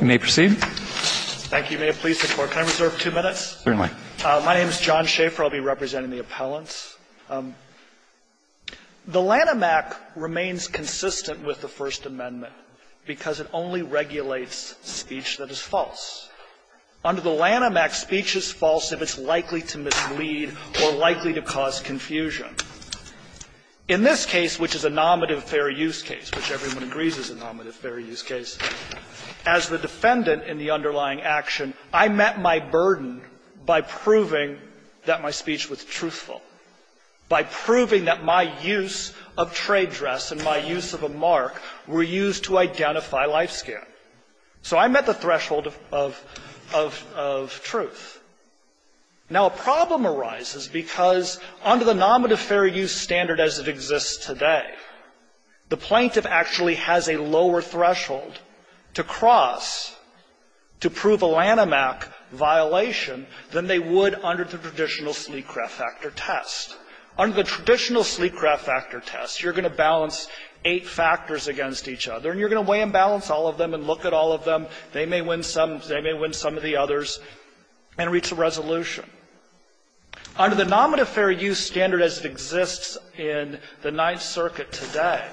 You may proceed. Thank you. May it please the Court. Can I reserve two minutes? Certainly. My name is John Schaeffer. I'll be representing the appellants. The Lanham Act remains consistent with the First Amendment because it only regulates speech that is false. Under the Lanham Act, speech is false if it's likely to mislead or likely to cause confusion. In this case, which is a nominative fair use case, which everyone agrees is a nominative fair use case, as the defendant in the underlying action, I met my burden by proving that my speech was truthful, by proving that my use of trade dress and my use of a mark were used to identify life skin. So I met the threshold of truth. Now, a problem arises because under the nominative fair use standard as it exists today, the plaintiff actually has a lower threshold to cross to prove a Lanham Act violation than they would under the traditional sleep-craft factor test. Under the traditional sleep-craft factor test, you're going to balance eight factors against each other, and you're going to weigh and balance all of them and look at all of them. They may win some of the others and reach a resolution. Under the nominative fair use standard as it exists in the Ninth Circuit today,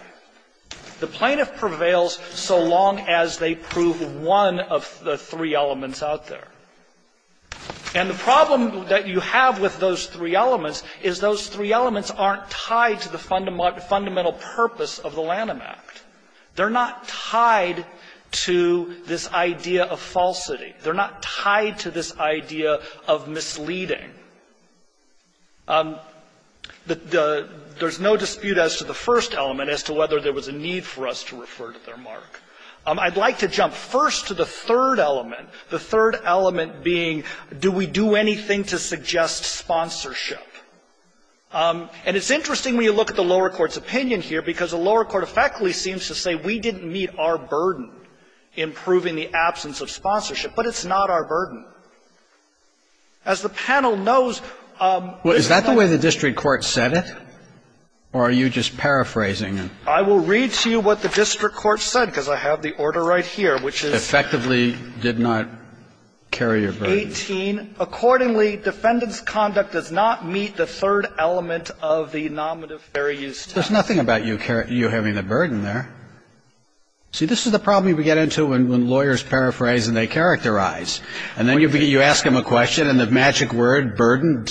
the plaintiff prevails so long as they prove one of the three elements out there. And the problem that you have with those three elements is those three elements aren't tied to the fundamental purpose of the Lanham Act. They're not tied to this idea of falsity. They're not tied to this idea of misleading. There's no dispute as to the first element, as to whether there was a need for us to refer to their mark. I'd like to jump first to the third element, the third element being, do we do anything to suggest sponsorship? And it's interesting when you look at the lower court's opinion here, because the lower court effectively seems to say we didn't meet our burden in proving the absence of sponsorship. But it's not our burden. As the panel knows, this is not the way the district court said it. Or are you just paraphrasing it? I will read to you what the district court said, because I have the order right here, which is. Effectively did not carry your burden. Eighteen. Accordingly, defendant's conduct does not meet the third element of the nominative fair use standard. There's nothing about you having the burden there. See, this is the problem we get into when lawyers paraphrase and they characterize. And then you ask them a question and the magic word, burden,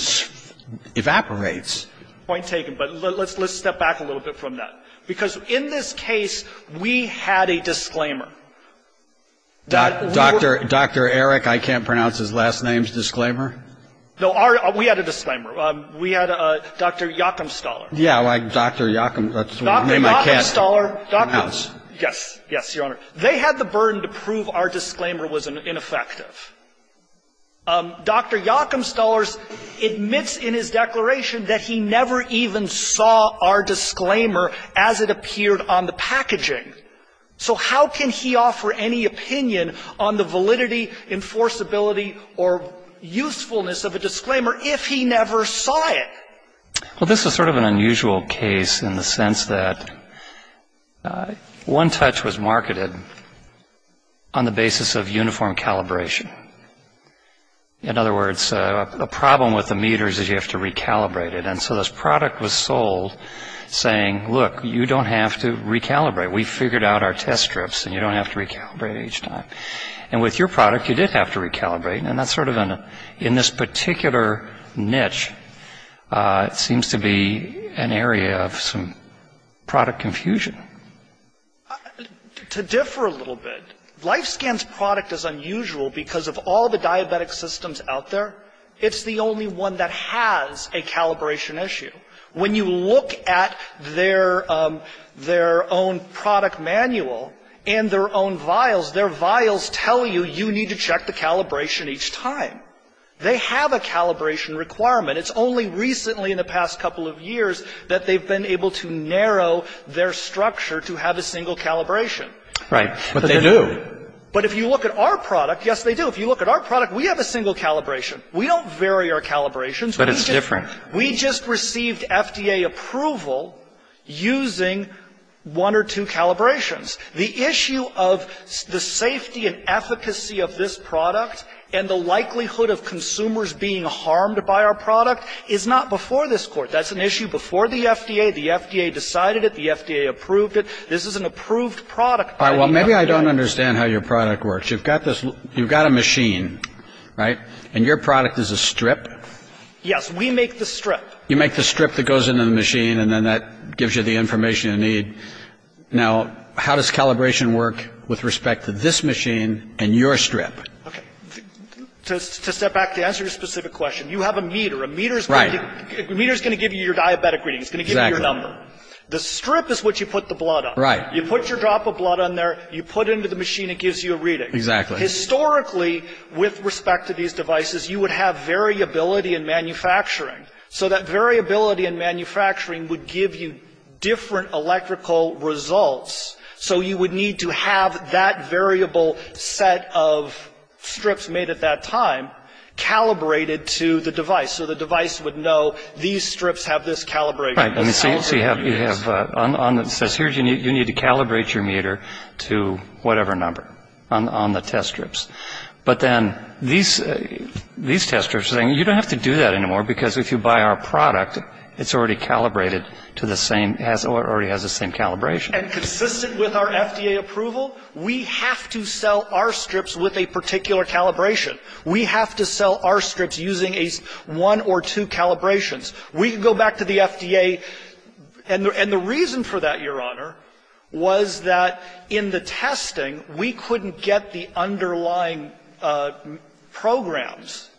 evaporates. Point taken, but let's step back a little bit from that. Because in this case, we had a disclaimer. Dr. Eric, I can't pronounce his last name's disclaimer. No, we had a disclaimer. We had Dr. Joachim Stoller. Yeah, like Dr. Joachim. Dr. Joachim Stoller. Yes, yes, Your Honor. They had the burden to prove our disclaimer was ineffective. Dr. Joachim Stoller admits in his declaration that he never even saw our disclaimer as it appeared on the packaging. So how can he offer any opinion on the validity, enforceability, or usefulness of a disclaimer if he never saw it? Well, this is sort of an unusual case in the sense that OneTouch was marketed on the basis of uniform calibration. In other words, a problem with the meters is you have to recalibrate it. And so this product was sold saying, look, you don't have to recalibrate. We figured out our test strips, and you don't have to recalibrate each time. And with your product, you did have to recalibrate. And that's sort of in this particular niche, it seems to be an area of some product confusion. To differ a little bit, LifeScan's product is unusual because of all the diabetic systems out there. It's the only one that has a calibration issue. When you look at their own product manual and their own vials, their vials tell you you need to check the calibration each time. They have a calibration requirement. It's only recently in the past couple of years that they've been able to narrow their structure to have a single calibration. Right. But they do. But if you look at our product, yes, they do. If you look at our product, we have a single calibration. We don't vary our calibrations. But it's different. We just received FDA approval using one or two calibrations. The issue of the safety and efficacy of this product and the likelihood of consumers being harmed by our product is not before this Court. That's an issue before the FDA. The FDA decided it. The FDA approved it. This is an approved product by the FDA. All right. Well, maybe I don't understand how your product works. You've got this, you've got a machine, right? And your product is a strip? Yes. We make the strip. You make the strip that goes into the machine and then that gives you the information you need. Now, how does calibration work with respect to this machine and your strip? Okay. To step back to answer your specific question, you have a meter. A meter is going to give you your diabetic reading. It's going to give you your number. The strip is what you put the blood on. Right. You put your drop of blood on there. You put it into the machine. It gives you a reading. Exactly. Historically, with respect to these devices, you would have variability in manufacturing. So that variability in manufacturing would give you different electrical results. So you would need to have that variable set of strips made at that time calibrated to the device. So the device would know these strips have this calibration. Right. And so you have, on the, it says here you need to calibrate your meter to whatever number on the test strips. But then these test strips are saying, you don't have to do that anymore because if you buy our product, it's already calibrated to the same, or it already has the same calibration. And consistent with our FDA approval, we have to sell our strips with a particular calibration. We have to sell our strips using one or two calibrations. We can go back to the FDA, and the reason for that, Your Honor, was that in the testing, we couldn't get the underlying programs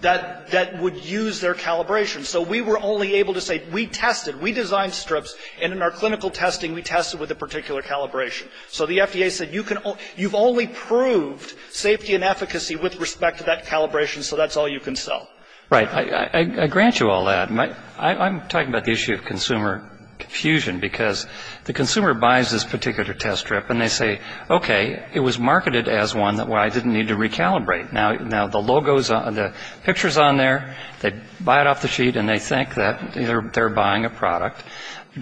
that would use their calibration. So we were only able to say, we tested, we designed strips, and in our clinical testing, we tested with a particular calibration. So the FDA said, you can, you've only proved safety and efficacy with respect to that calibration, so that's all you can sell. Right. I grant you all that. I'm talking about the issue of consumer confusion, because the consumer buys this particular test strip, and they say, okay, it was marketed as one that I didn't need to recalibrate. Now, the logo's on, the picture's on there, they buy it off the sheet, and they think that they're buying a product,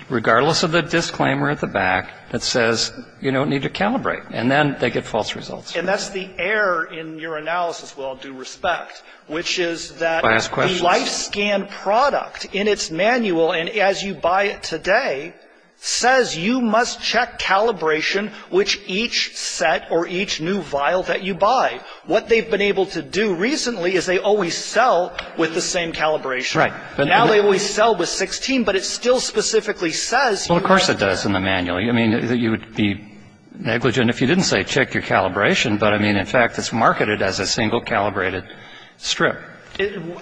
regardless of the disclaimer at the back that says, you don't need to calibrate. And then they get false results. And that's the error in your analysis, with all due respect, which is that the LifeScan product in its manual, and as you buy it today, says you must check calibration with each set or each new vial that you buy. What they've been able to do recently is they always sell with the same calibration. Right. But now they always sell with 16, but it still specifically says you have to. Well, of course it does in the manual. I mean, you would be negligent. And if you didn't say check your calibration, but I mean, in fact, it's marketed as a single calibrated strip.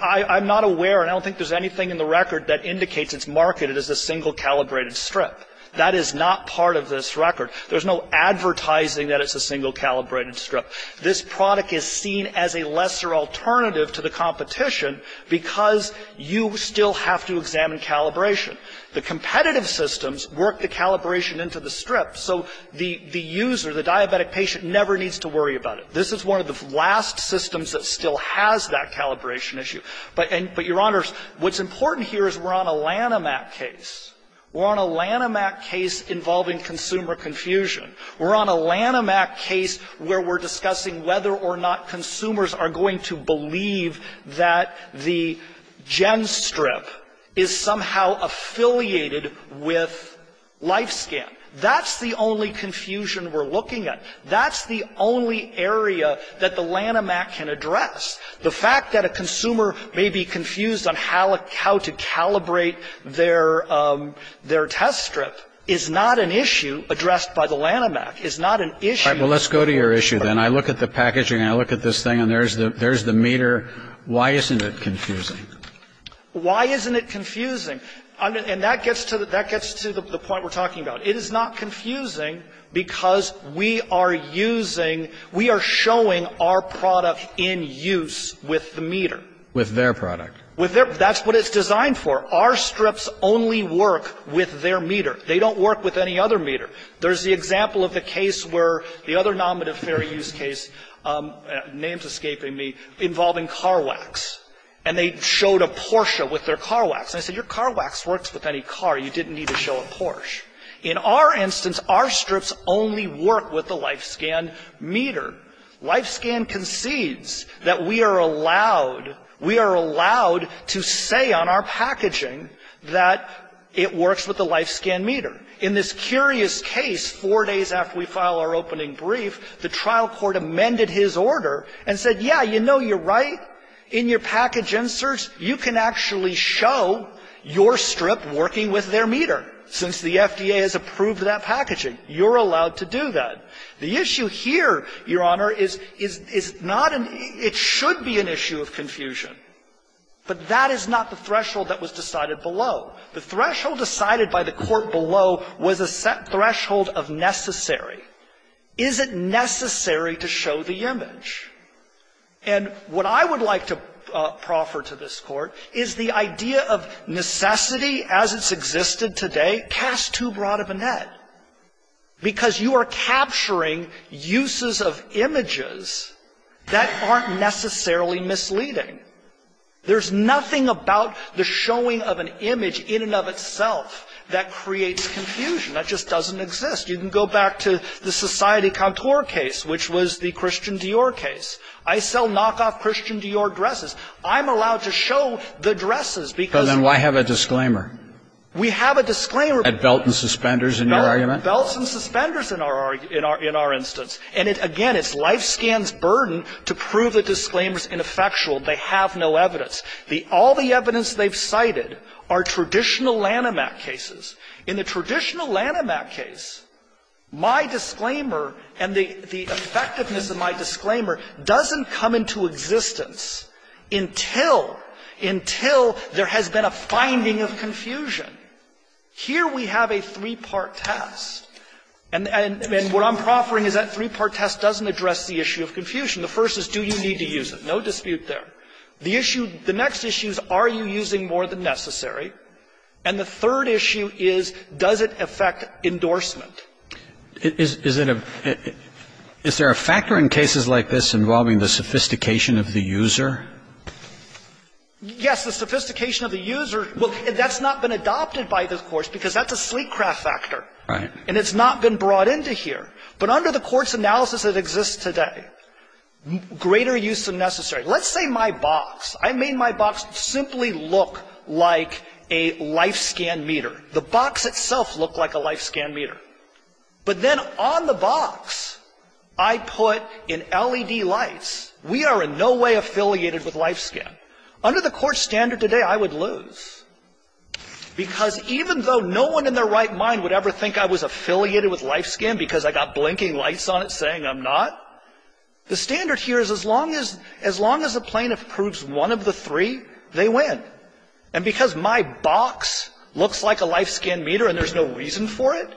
I'm not aware, and I don't think there's anything in the record that indicates it's marketed as a single calibrated strip. That is not part of this record. There's no advertising that it's a single calibrated strip. This product is seen as a lesser alternative to the competition, because you still have to examine calibration. The competitive systems work the calibration into the strip. So the user, the diabetic patient, never needs to worry about it. This is one of the last systems that still has that calibration issue. But, Your Honors, what's important here is we're on a Lanham Act case. We're on a Lanham Act case involving consumer confusion. We're on a Lanham Act case where we're discussing whether or not consumers are going to believe that the GenStrip is somehow affiliated with LifeScan. That's the only confusion we're looking at. That's the only area that the Lanham Act can address. The fact that a consumer may be confused on how to calibrate their test strip is not an issue addressed by the Lanham Act. It's not an issue. Well, let's go to your issue, then. I look at the packaging, I look at this thing, and there's the meter. Why isn't it confusing? Why isn't it confusing? And that gets to the point we're talking about. It is not confusing because we are using, we are showing our product in use with the meter. With their product. With their, that's what it's designed for. Our strips only work with their meter. They don't work with any other meter. There's the example of the case where the other non-benefarious case, name's escaping me, involving Carwax. And they showed a Porsche with their Carwax. And I said, your Carwax works with any car. You didn't need to show a Porsche. In our instance, our strips only work with the LifeScan meter. LifeScan concedes that we are allowed, we are allowed to say on our packaging that it works with the LifeScan meter. In this curious case, four days after we file our opening brief, the trial court amended his order and said, yeah, you know, you're right. In your package inserts, you can actually show your strip working with their meter. Since the FDA has approved that packaging, you're allowed to do that. The issue here, your Honor, is not an, it should be an issue of confusion. But that is not the threshold that was decided below. The threshold decided by the court below was a set threshold of necessary. Is it necessary to show the image? And what I would like to proffer to this court is the idea of necessity as it's existed today cast too broad of a net. Because you are capturing uses of images that aren't necessarily misleading. There's nothing about the showing of an image in and of itself that creates confusion. That just doesn't exist. You can go back to the Society Contour case, which was the Christian Dior case. I sell knockoff Christian Dior dresses. I'm allowed to show the dresses because. But then why have a disclaimer? We have a disclaimer. At belt and suspenders in your argument? Belts and suspenders in our instance. And again, it's LifeScan's burden to prove the disclaimer's ineffectual. They have no evidence. All the evidence they've cited are traditional Lanhamac cases. In the traditional Lanhamac case, my disclaimer and the effectiveness of my disclaimer doesn't come into existence until, until there has been a finding of confusion. Here we have a three-part test. And what I'm proffering is that three-part test doesn't address the issue of confusion. The first is, do you need to use it? No dispute there. The issue, the next issue is, are you using more than necessary? And the third issue is, does it affect endorsement? Is it a, is there a factor in cases like this involving the sophistication of the user? Yes. The sophistication of the user, well, that's not been adopted by this Course because that's a sleek craft factor. Right. And it's not been brought into here. But under the Court's analysis that exists today, greater use than necessary. Let's say my box. I made my box simply look like a LifeScan meter. The box itself looked like a LifeScan meter. But then on the box, I put in LED lights, we are in no way affiliated with LifeScan. Under the Court's standard today, I would lose, because even though no one in their right mind would ever think I was affiliated with LifeScan because I got blinking lights on it saying I'm not, the standard here is as long as, as long as the plaintiff proves one of the three, they win. And because my box looks like a LifeScan meter and there's no reason for it,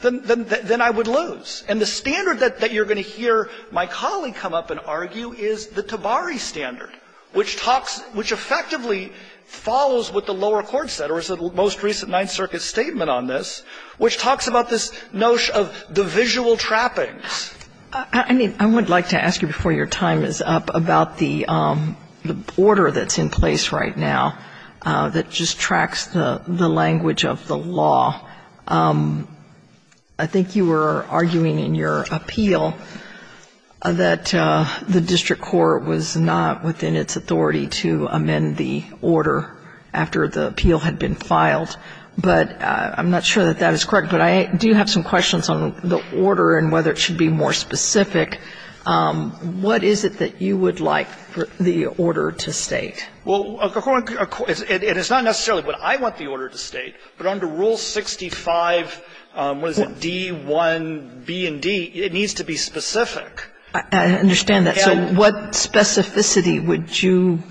then I would lose. And the standard that you're going to hear my colleague come up and argue is the Tabari standard, which talks, which effectively follows what the lower court said or is the most recent Ninth Circuit statement on this, which talks about this notion of the visual trappings. I mean, I would like to ask you before your time is up about the order that's in place right now that just tracks the language of the law. I think you were arguing in your appeal that the district court was not within its authority to amend the order after the appeal had been filed. But I'm not sure that that is correct. But I do have some questions on the order and whether it should be more specific. What is it that you would like the order to state? Well, it's not necessarily what I want the order to state, but under Rule 65, what is it, D1B&D, it needs to be specific. I understand that. So what specificity would you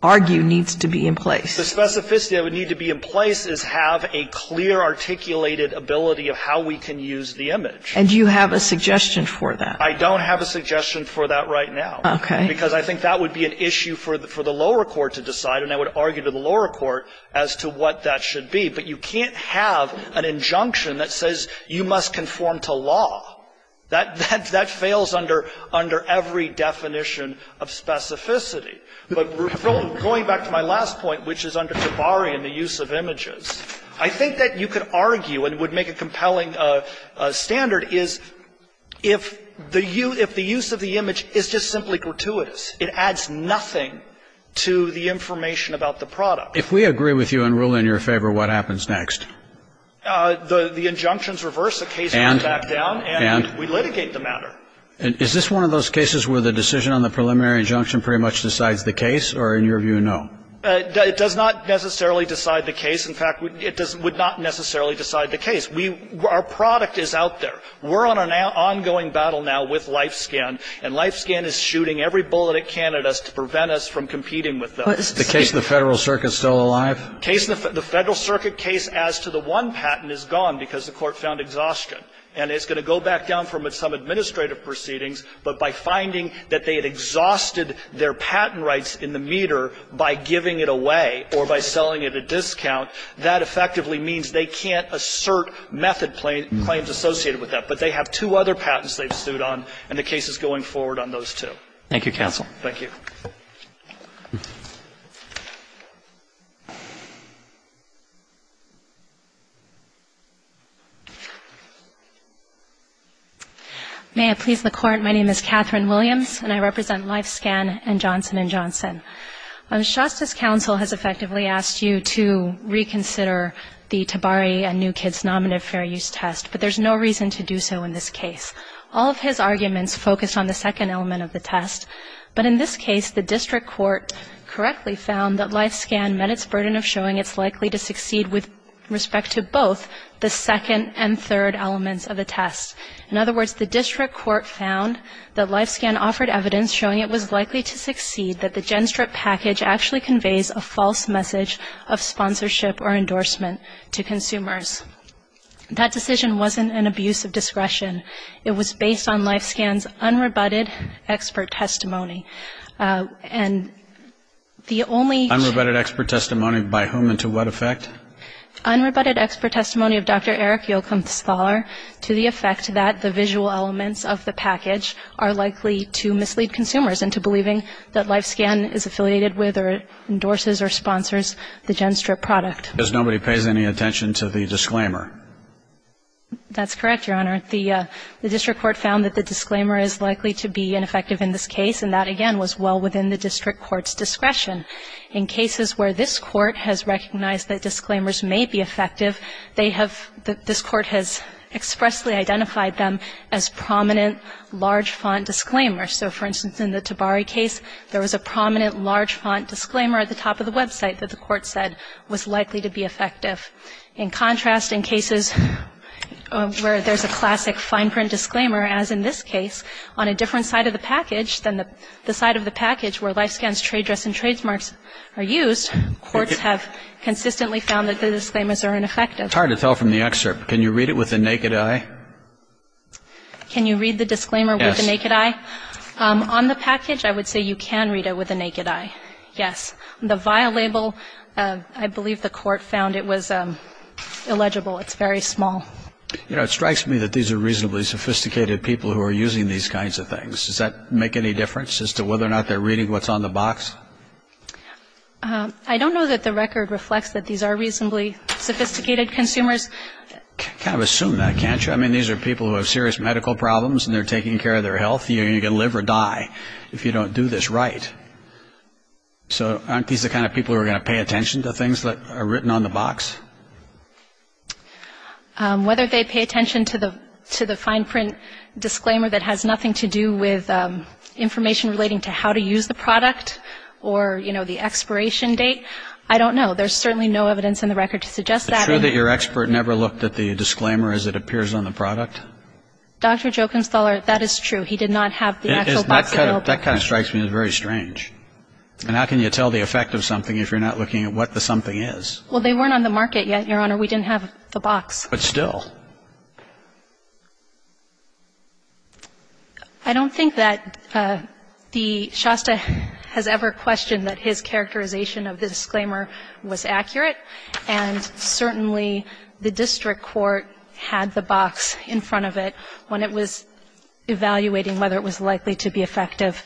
argue needs to be in place? The specificity that would need to be in place is have a clear articulated ability of how we can use the image. And do you have a suggestion for that? I don't have a suggestion for that right now. Okay. Because I think that would be an issue for the lower court to decide, and I would argue to the lower court as to what that should be. But you can't have an injunction that says you must conform to law. That fails under every definition of specificity. But going back to my last point, which is under Jabari and the use of images, I think that you could argue and would make a compelling standard is if the use of the image is just simply gratuitous. It adds nothing to the information about the product. If we agree with you and rule in your favor, what happens next? The injunctions reverse. The case goes back down. And? And we litigate the matter. And is this one of those cases where the decision on the preliminary injunction pretty much decides the case, or in your view, no? It does not necessarily decide the case. In fact, it would not necessarily decide the case. We – our product is out there. We're on an ongoing battle now with LifeScan, and LifeScan is shooting every bullet it can at us to prevent us from competing with them. The case in the Federal Circuit is still alive? The Federal Circuit case as to the one patent is gone because the court found exhaustion. And it's going to go back down from some administrative proceedings, but by finding that they had exhausted their patent rights in the meter by giving it away or by selling it at discount, that effectively means they can't assert method claims associated with that. But they have two other patents they've sued on, and the case is going forward on those two. Thank you, counsel. Thank you. May I please the Court? My name is Catherine Williams, and I represent LifeScan and Johnson & Johnson. Shasta's counsel has effectively asked you to reconsider the Tabari and New Kids nominative fair use test, but there's no reason to do so in this case. All of his arguments focus on the second element of the test, but in this case, the district court correctly found that LifeScan met its burden of showing it's likely to succeed with respect to both the second and third elements of the test. In other words, the district court found that LifeScan offered evidence showing it was likely to succeed, that the GenStrip package actually conveys a false message of sponsorship or endorsement to consumers. That decision wasn't an abuse of discretion. It was based on LifeScan's unrebutted expert testimony, and the only unrebutted expert testimony by whom and to what effect? Unrebutted expert testimony of Dr. Eric Yocumsthaler to the effect that the visual elements of the package are likely to mislead consumers into believing that LifeScan is affiliated with or endorses or sponsors the GenStrip product. Because nobody pays any attention to the disclaimer. That's correct, Your Honor. The district court found that the disclaimer is likely to be ineffective in this case, and that, again, was well within the district court's discretion. In cases where this court has recognized that disclaimers may be effective, they have, this court has expressly identified them as prominent large font disclaimers. So, for instance, in the Tabari case, there was a prominent large font disclaimer at the top of the website that the court said was likely to be effective. In contrast, in cases where there's a classic fine print disclaimer, as in this case, on a different side of the package than the, the side of the package where LifeScan's trade dress and trademarks are used, courts have consistently found that the disclaimers are ineffective. It's hard to tell from the excerpt. Can you read it with the naked eye? Can you read the disclaimer with the naked eye? Yes. On the package, I would say you can read it with the naked eye. Yes. The via label, I believe the court found it was illegible. It's very small. You know, it strikes me that these are reasonably sophisticated people who are using these kinds of things. Does that make any difference as to whether or not they're reading what's on the box? I don't know that the record reflects that these are reasonably sophisticated consumers. Kind of assume that, can't you? I mean, these are people who have serious medical problems and they're taking care of their health. You're going to live or die if you don't do this right. So aren't these the kind of people who are going to pay attention to things that are written on the box? Whether they pay attention to the fine print disclaimer that has nothing to do with information relating to how to use the product or, you know, the expiration date, I don't know. There's certainly no evidence in the record to suggest that. Is it true that your expert never looked at the disclaimer as it appears on the product? Dr. Jochenstaller, that is true. He did not have the actual box available. That kind of strikes me as very strange. And how can you tell the effect of something if you're not looking at what the something is? Well, they weren't on the market. Your Honor, we didn't have the box. But still? I don't think that the Shasta has ever questioned that his characterization of the disclaimer was accurate. And certainly the district court had the box in front of it when it was evaluating whether it was likely to be effective.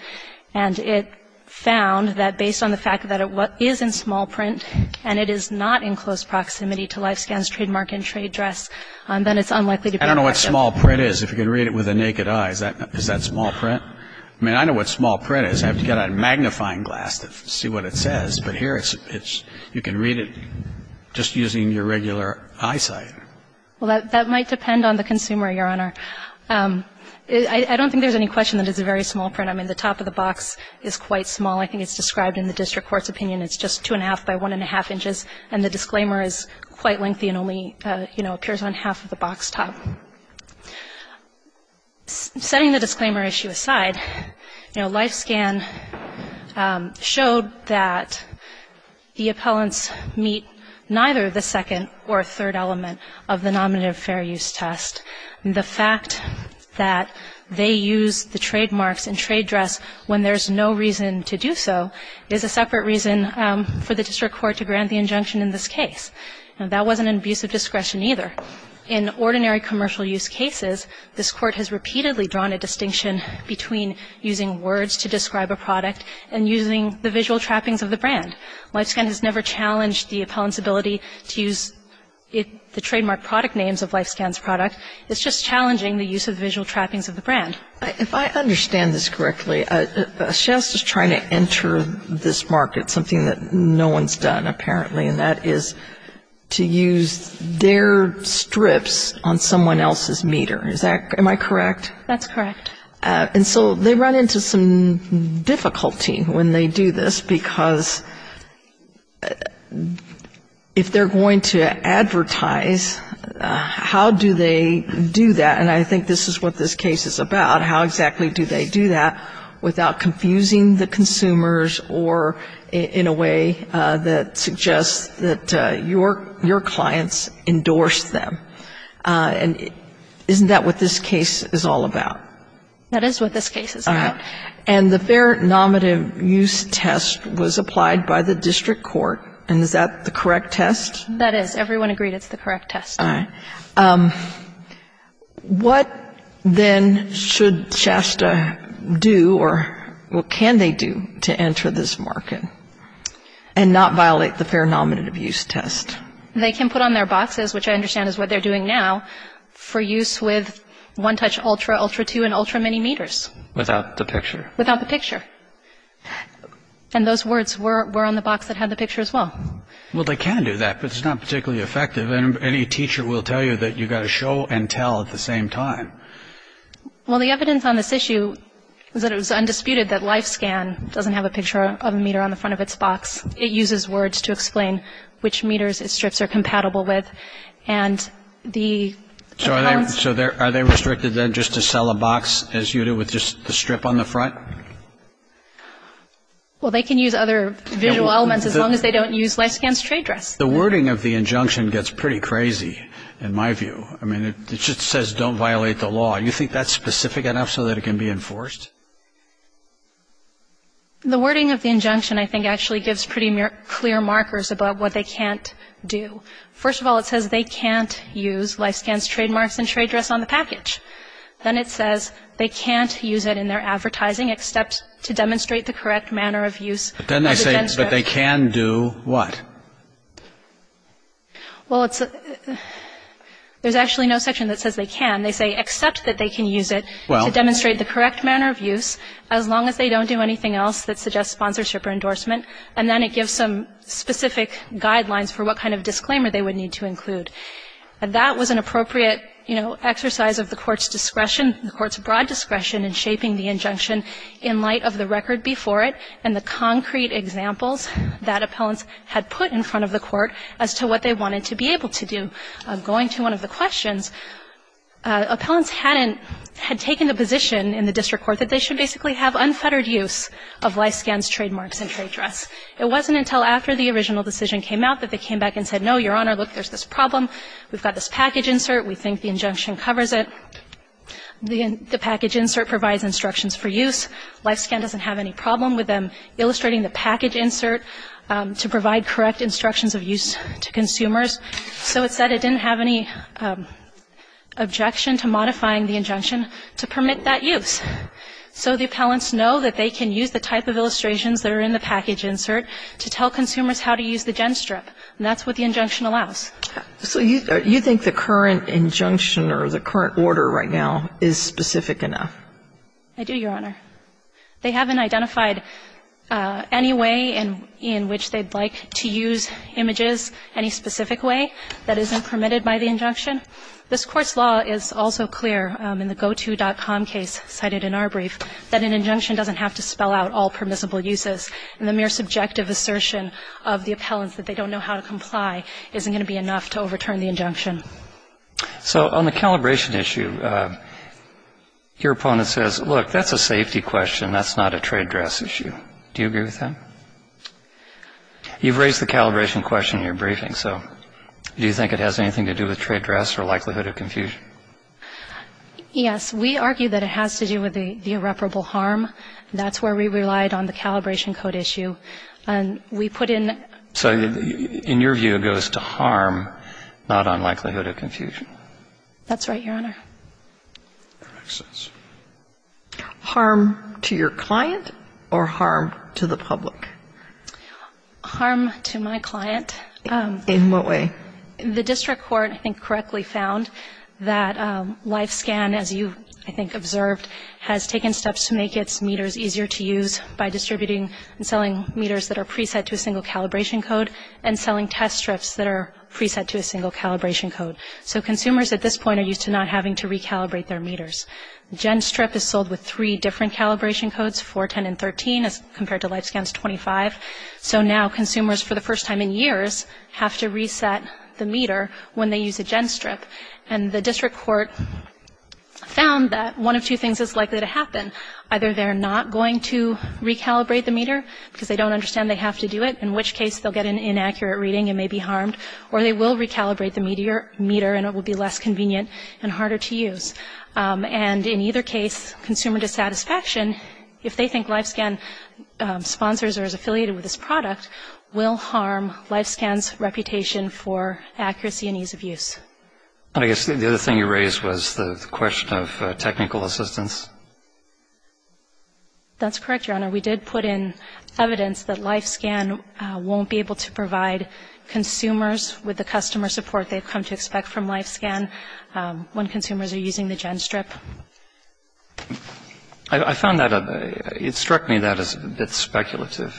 And it found that based on the fact that it is in small print and it is not in close proximity to LifeScan's trademark and trade dress, then it's unlikely to be effective. I don't know what small print is. If you can read it with the naked eye, is that small print? I mean, I know what small print is. I have to get a magnifying glass to see what it says. But here it's you can read it just using your regular eyesight. Well, that might depend on the consumer, Your Honor. I don't think there's any question that it's a very small print. I mean, the top of the box is quite small. I think it's described in the district court's opinion. It's just two and a half by one and a half inches. And the disclaimer is quite lengthy and only, you know, appears on half of the box top. Setting the disclaimer issue aside, you know, LifeScan showed that the appellants meet neither the second or third element of the nominative fair use test. The fact that they use the trademarks and trade dress when there's no reason to do so is a separate reason for the district court to grant the injunction in this case. And that wasn't an abuse of discretion either. In ordinary commercial use cases, this court has repeatedly drawn a distinction between using words to describe a product and using the visual trappings of the brand. LifeScan has never challenged the appellant's ability to use the trademark product names of LifeScan's product. It's just challenging the use of visual trappings of the brand. If I understand this correctly, Shasta's trying to enter this market, something that no one's done apparently, and that is to use their strips on someone else's meter. Is that, am I correct? That's correct. And so they run into some difficulty when they do this because if they're going to advertise, how do they do that? And I think this is what this case is about. How exactly do they do that without confusing the consumers or in a way that suggests that your clients endorsed them? And isn't that what this case is all about? That is what this case is about. And the fair nominative use test was applied by the district court. And is that the correct test? That is. Everyone agreed it's the correct test. All right. What then should Shasta do or what can they do to enter this market and not violate the fair nominative use test? They can put on their boxes, which I understand is what they're doing now, for use with OneTouch Ultra, Ultra 2, and Ultra Mini meters. Without the picture. Without the picture. And those words were on the box that had the picture as well. Well, they can do that, but it's not particularly effective. And any teacher will tell you that you've got to show and tell at the same time. Well, the evidence on this issue is that it was undisputed that LifeScan doesn't have a picture of a meter on the front of its box. It uses words to explain which meters its strips are compatible with. And the. So are they restricted then just to sell a box as you do with just the strip on the front? Well, they can use other visual elements as long as they don't use LifeScan's trade dress. The wording of the injunction gets pretty crazy in my view. I mean, it just says don't violate the law. You think that's specific enough so that it can be enforced? The wording of the injunction, I think, actually gives pretty clear markers about what they can't do. First of all, it says they can't use LifeScan's trademarks and trade dress on the package. Then it says they can't use it in their advertising except to demonstrate the correct manner of use. But then they say that they can do what? Well, it's there's actually no section that says they can. They say except that they can use it to demonstrate the correct manner of use as long as they don't do anything else that suggests sponsorship or endorsement. And then it gives some specific guidelines for what kind of disclaimer they would need to include. And that was an appropriate, you know, exercise of the Court's discretion, the Court's broad discretion in shaping the injunction in light of the record before it and the concrete examples that appellants had put in front of the Court as to what they wanted to be able to do. Going to one of the questions, appellants hadn't, had taken a position in the district court that they should basically have unfettered use of LifeScan's trademarks and trade dress. It wasn't until after the original decision came out that they came back and said, no, Your Honor, look, there's this problem. We've got this package insert. We think the injunction covers it. The package insert provides instructions for use. LifeScan doesn't have any problem with them illustrating the package insert to provide correct instructions of use to consumers. So it said it didn't have any objection to modifying the injunction to permit that use. So the appellants know that they can use the type of illustrations that are in the package insert to tell consumers how to use the GenStrip. And that's what the injunction allows. So you think the current injunction or the current order right now is specific enough? I do, Your Honor. They haven't identified any way in which they'd like to use images, any specific way that isn't permitted by the injunction. This Court's law is also clear in the goto.com case cited in our brief that an injunction doesn't have to spell out all permissible uses. And the mere subjective assertion of the appellants that they don't know how to comply isn't going to be enough to overturn the injunction. So on the calibration issue, your opponent says, look, that's a safety question. That's not a trade dress issue. Do you agree with that? You've raised the calibration question in your briefing. So do you think it has anything to do with trade dress or likelihood of confusion? Yes. We argue that it has to do with the irreparable harm. That's where we relied on the calibration code issue. And we put in. So in your view, it goes to harm, not on likelihood of confusion. That's right, Your Honor. Harm to your client or harm to the public? Harm to my client. In what way? The district court, I think, correctly found that LifeScan, as you, I think, observed, has taken steps to make its meters easier to use by distributing and selling meters that are preset to a single calibration code and selling test strips that are preset to a single calibration code. So consumers at this point are used to not having to recalibrate their meters. Gen strip is sold with three different calibration codes, 4, 10, and 13, as compared to LifeScan's 25. So now consumers, for the first time in years, have to reset the meter when they use a gen strip. And the district court found that one of two things is likely to happen. Either they're not going to recalibrate the meter because they don't understand they have to do it, in which case they'll get an inaccurate reading and may be harmed, or they will recalibrate the meter and it will be less convenient and harder to use. And in either case, consumer dissatisfaction, if they think LifeScan sponsors or is affiliated with this product, will harm LifeScan's reputation for accuracy and ease of use. I guess the other thing you raised was the question of technical assistance. We did put in evidence that LifeScan won't be able to provide consumers with the customer support they've come to expect from LifeScan when consumers are using the gen strip. I found that, it struck me that is a bit speculative.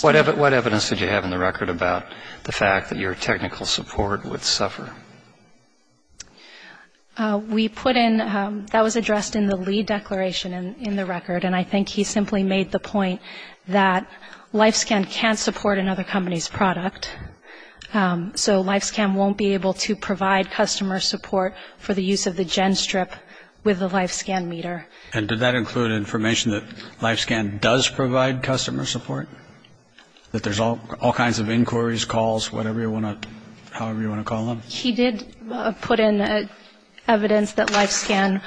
What evidence did you have in the record about the fact that your technical support would suffer? We put in, that was addressed in the lead declaration in the record, and I think he simply made the point that LifeScan can't support another company's product, so LifeScan won't be able to provide customer support for the use of the gen strip with the LifeScan meter. And did that include information that LifeScan does provide customer support, that there's all kinds of inquiries, calls, whatever you want to, however you want to call them? He did put in evidence that LifeScan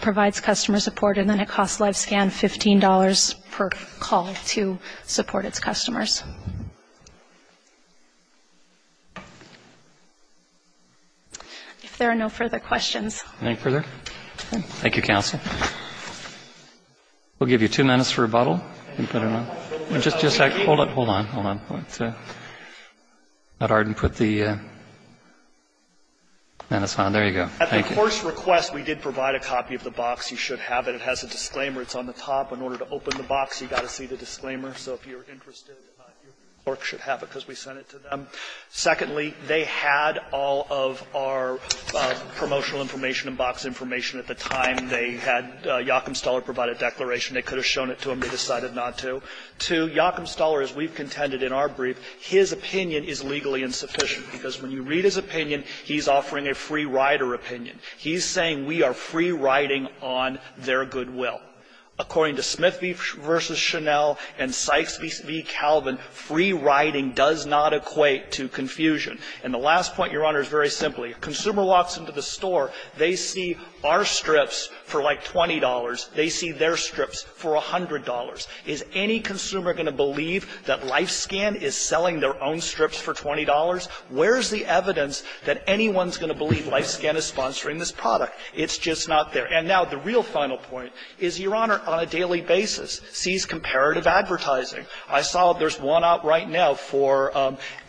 provides customer support, and then it costs LifeScan $15 per call to support its customers. If there are no further questions. No further? Thank you, counsel. We'll give you two minutes for rebuttal. Just a second. Hold on, hold on, hold on. It's not hard to put the, there you go. Thank you. At the first request, we did provide a copy of the box. You should have it. It has a disclaimer. It's on the top. In order to open the box, you've got to see the disclaimer. So if you're interested, your clerk should have it, because we sent it to them. Secondly, they had all of our promotional information and box information at the time. They had Yachum Stuller provide a declaration. They could have shown it to him. They decided not to. Two, Yachum Stuller, as we've contended in our brief, his opinion is legally insufficient, because when you read his opinion, he's offering a free-rider opinion. He's saying we are free-riding on their goodwill. According to Smith v. Chanel and Sykes v. Calvin, free-riding does not equate to confusion. And the last point, Your Honor, is very simple. If a consumer walks into the store, they see our strips for, like, $20. They see their strips for $100. Is any consumer going to believe that LifeScan is selling their own strips for $20? Where's the evidence that anyone's going to believe LifeScan is sponsoring this product? It's just not there. And now the real final point is Your Honor, on a daily basis, sees comparative advertising. I saw there's one out right now for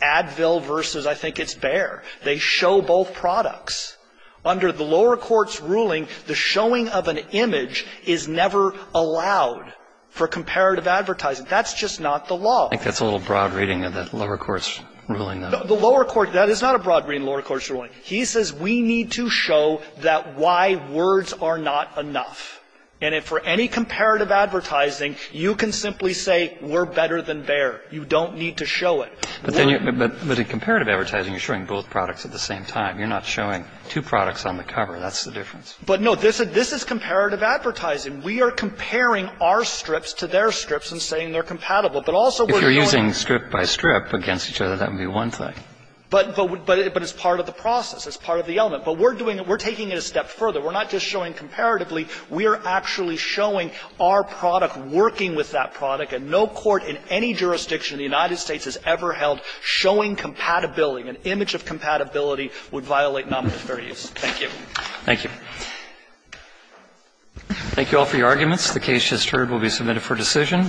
Advil v. I think it's Bayer. They show both products. Under the lower court's ruling, the showing of an image is never allowed for comparative advertising. That's just not the law. I think that's a little broad reading of the lower court's ruling, though. The lower court – that is not a broad reading of the lower court's ruling. He says we need to show that why words are not enough. And if for any comparative advertising, you can simply say we're better than Bayer. You don't need to show it. But in comparative advertising, you're showing both products at the same time. You're not showing two products on the cover. That's the difference. But, no, this is comparative advertising. We are comparing our strips to their strips and saying they're compatible. But also we're going to – If you're using strip by strip against each other, that would be one thing. But it's part of the process. It's part of the element. But we're doing it. We're taking it a step further. We're not just showing comparatively. We are actually showing our product working with that product. And no court in any jurisdiction in the United States has ever held showing compatibility, an image of compatibility, would violate nominal fair use. Thank you. Roberts. Thank you. Thank you all for your arguments. The case just heard will be submitted for decision.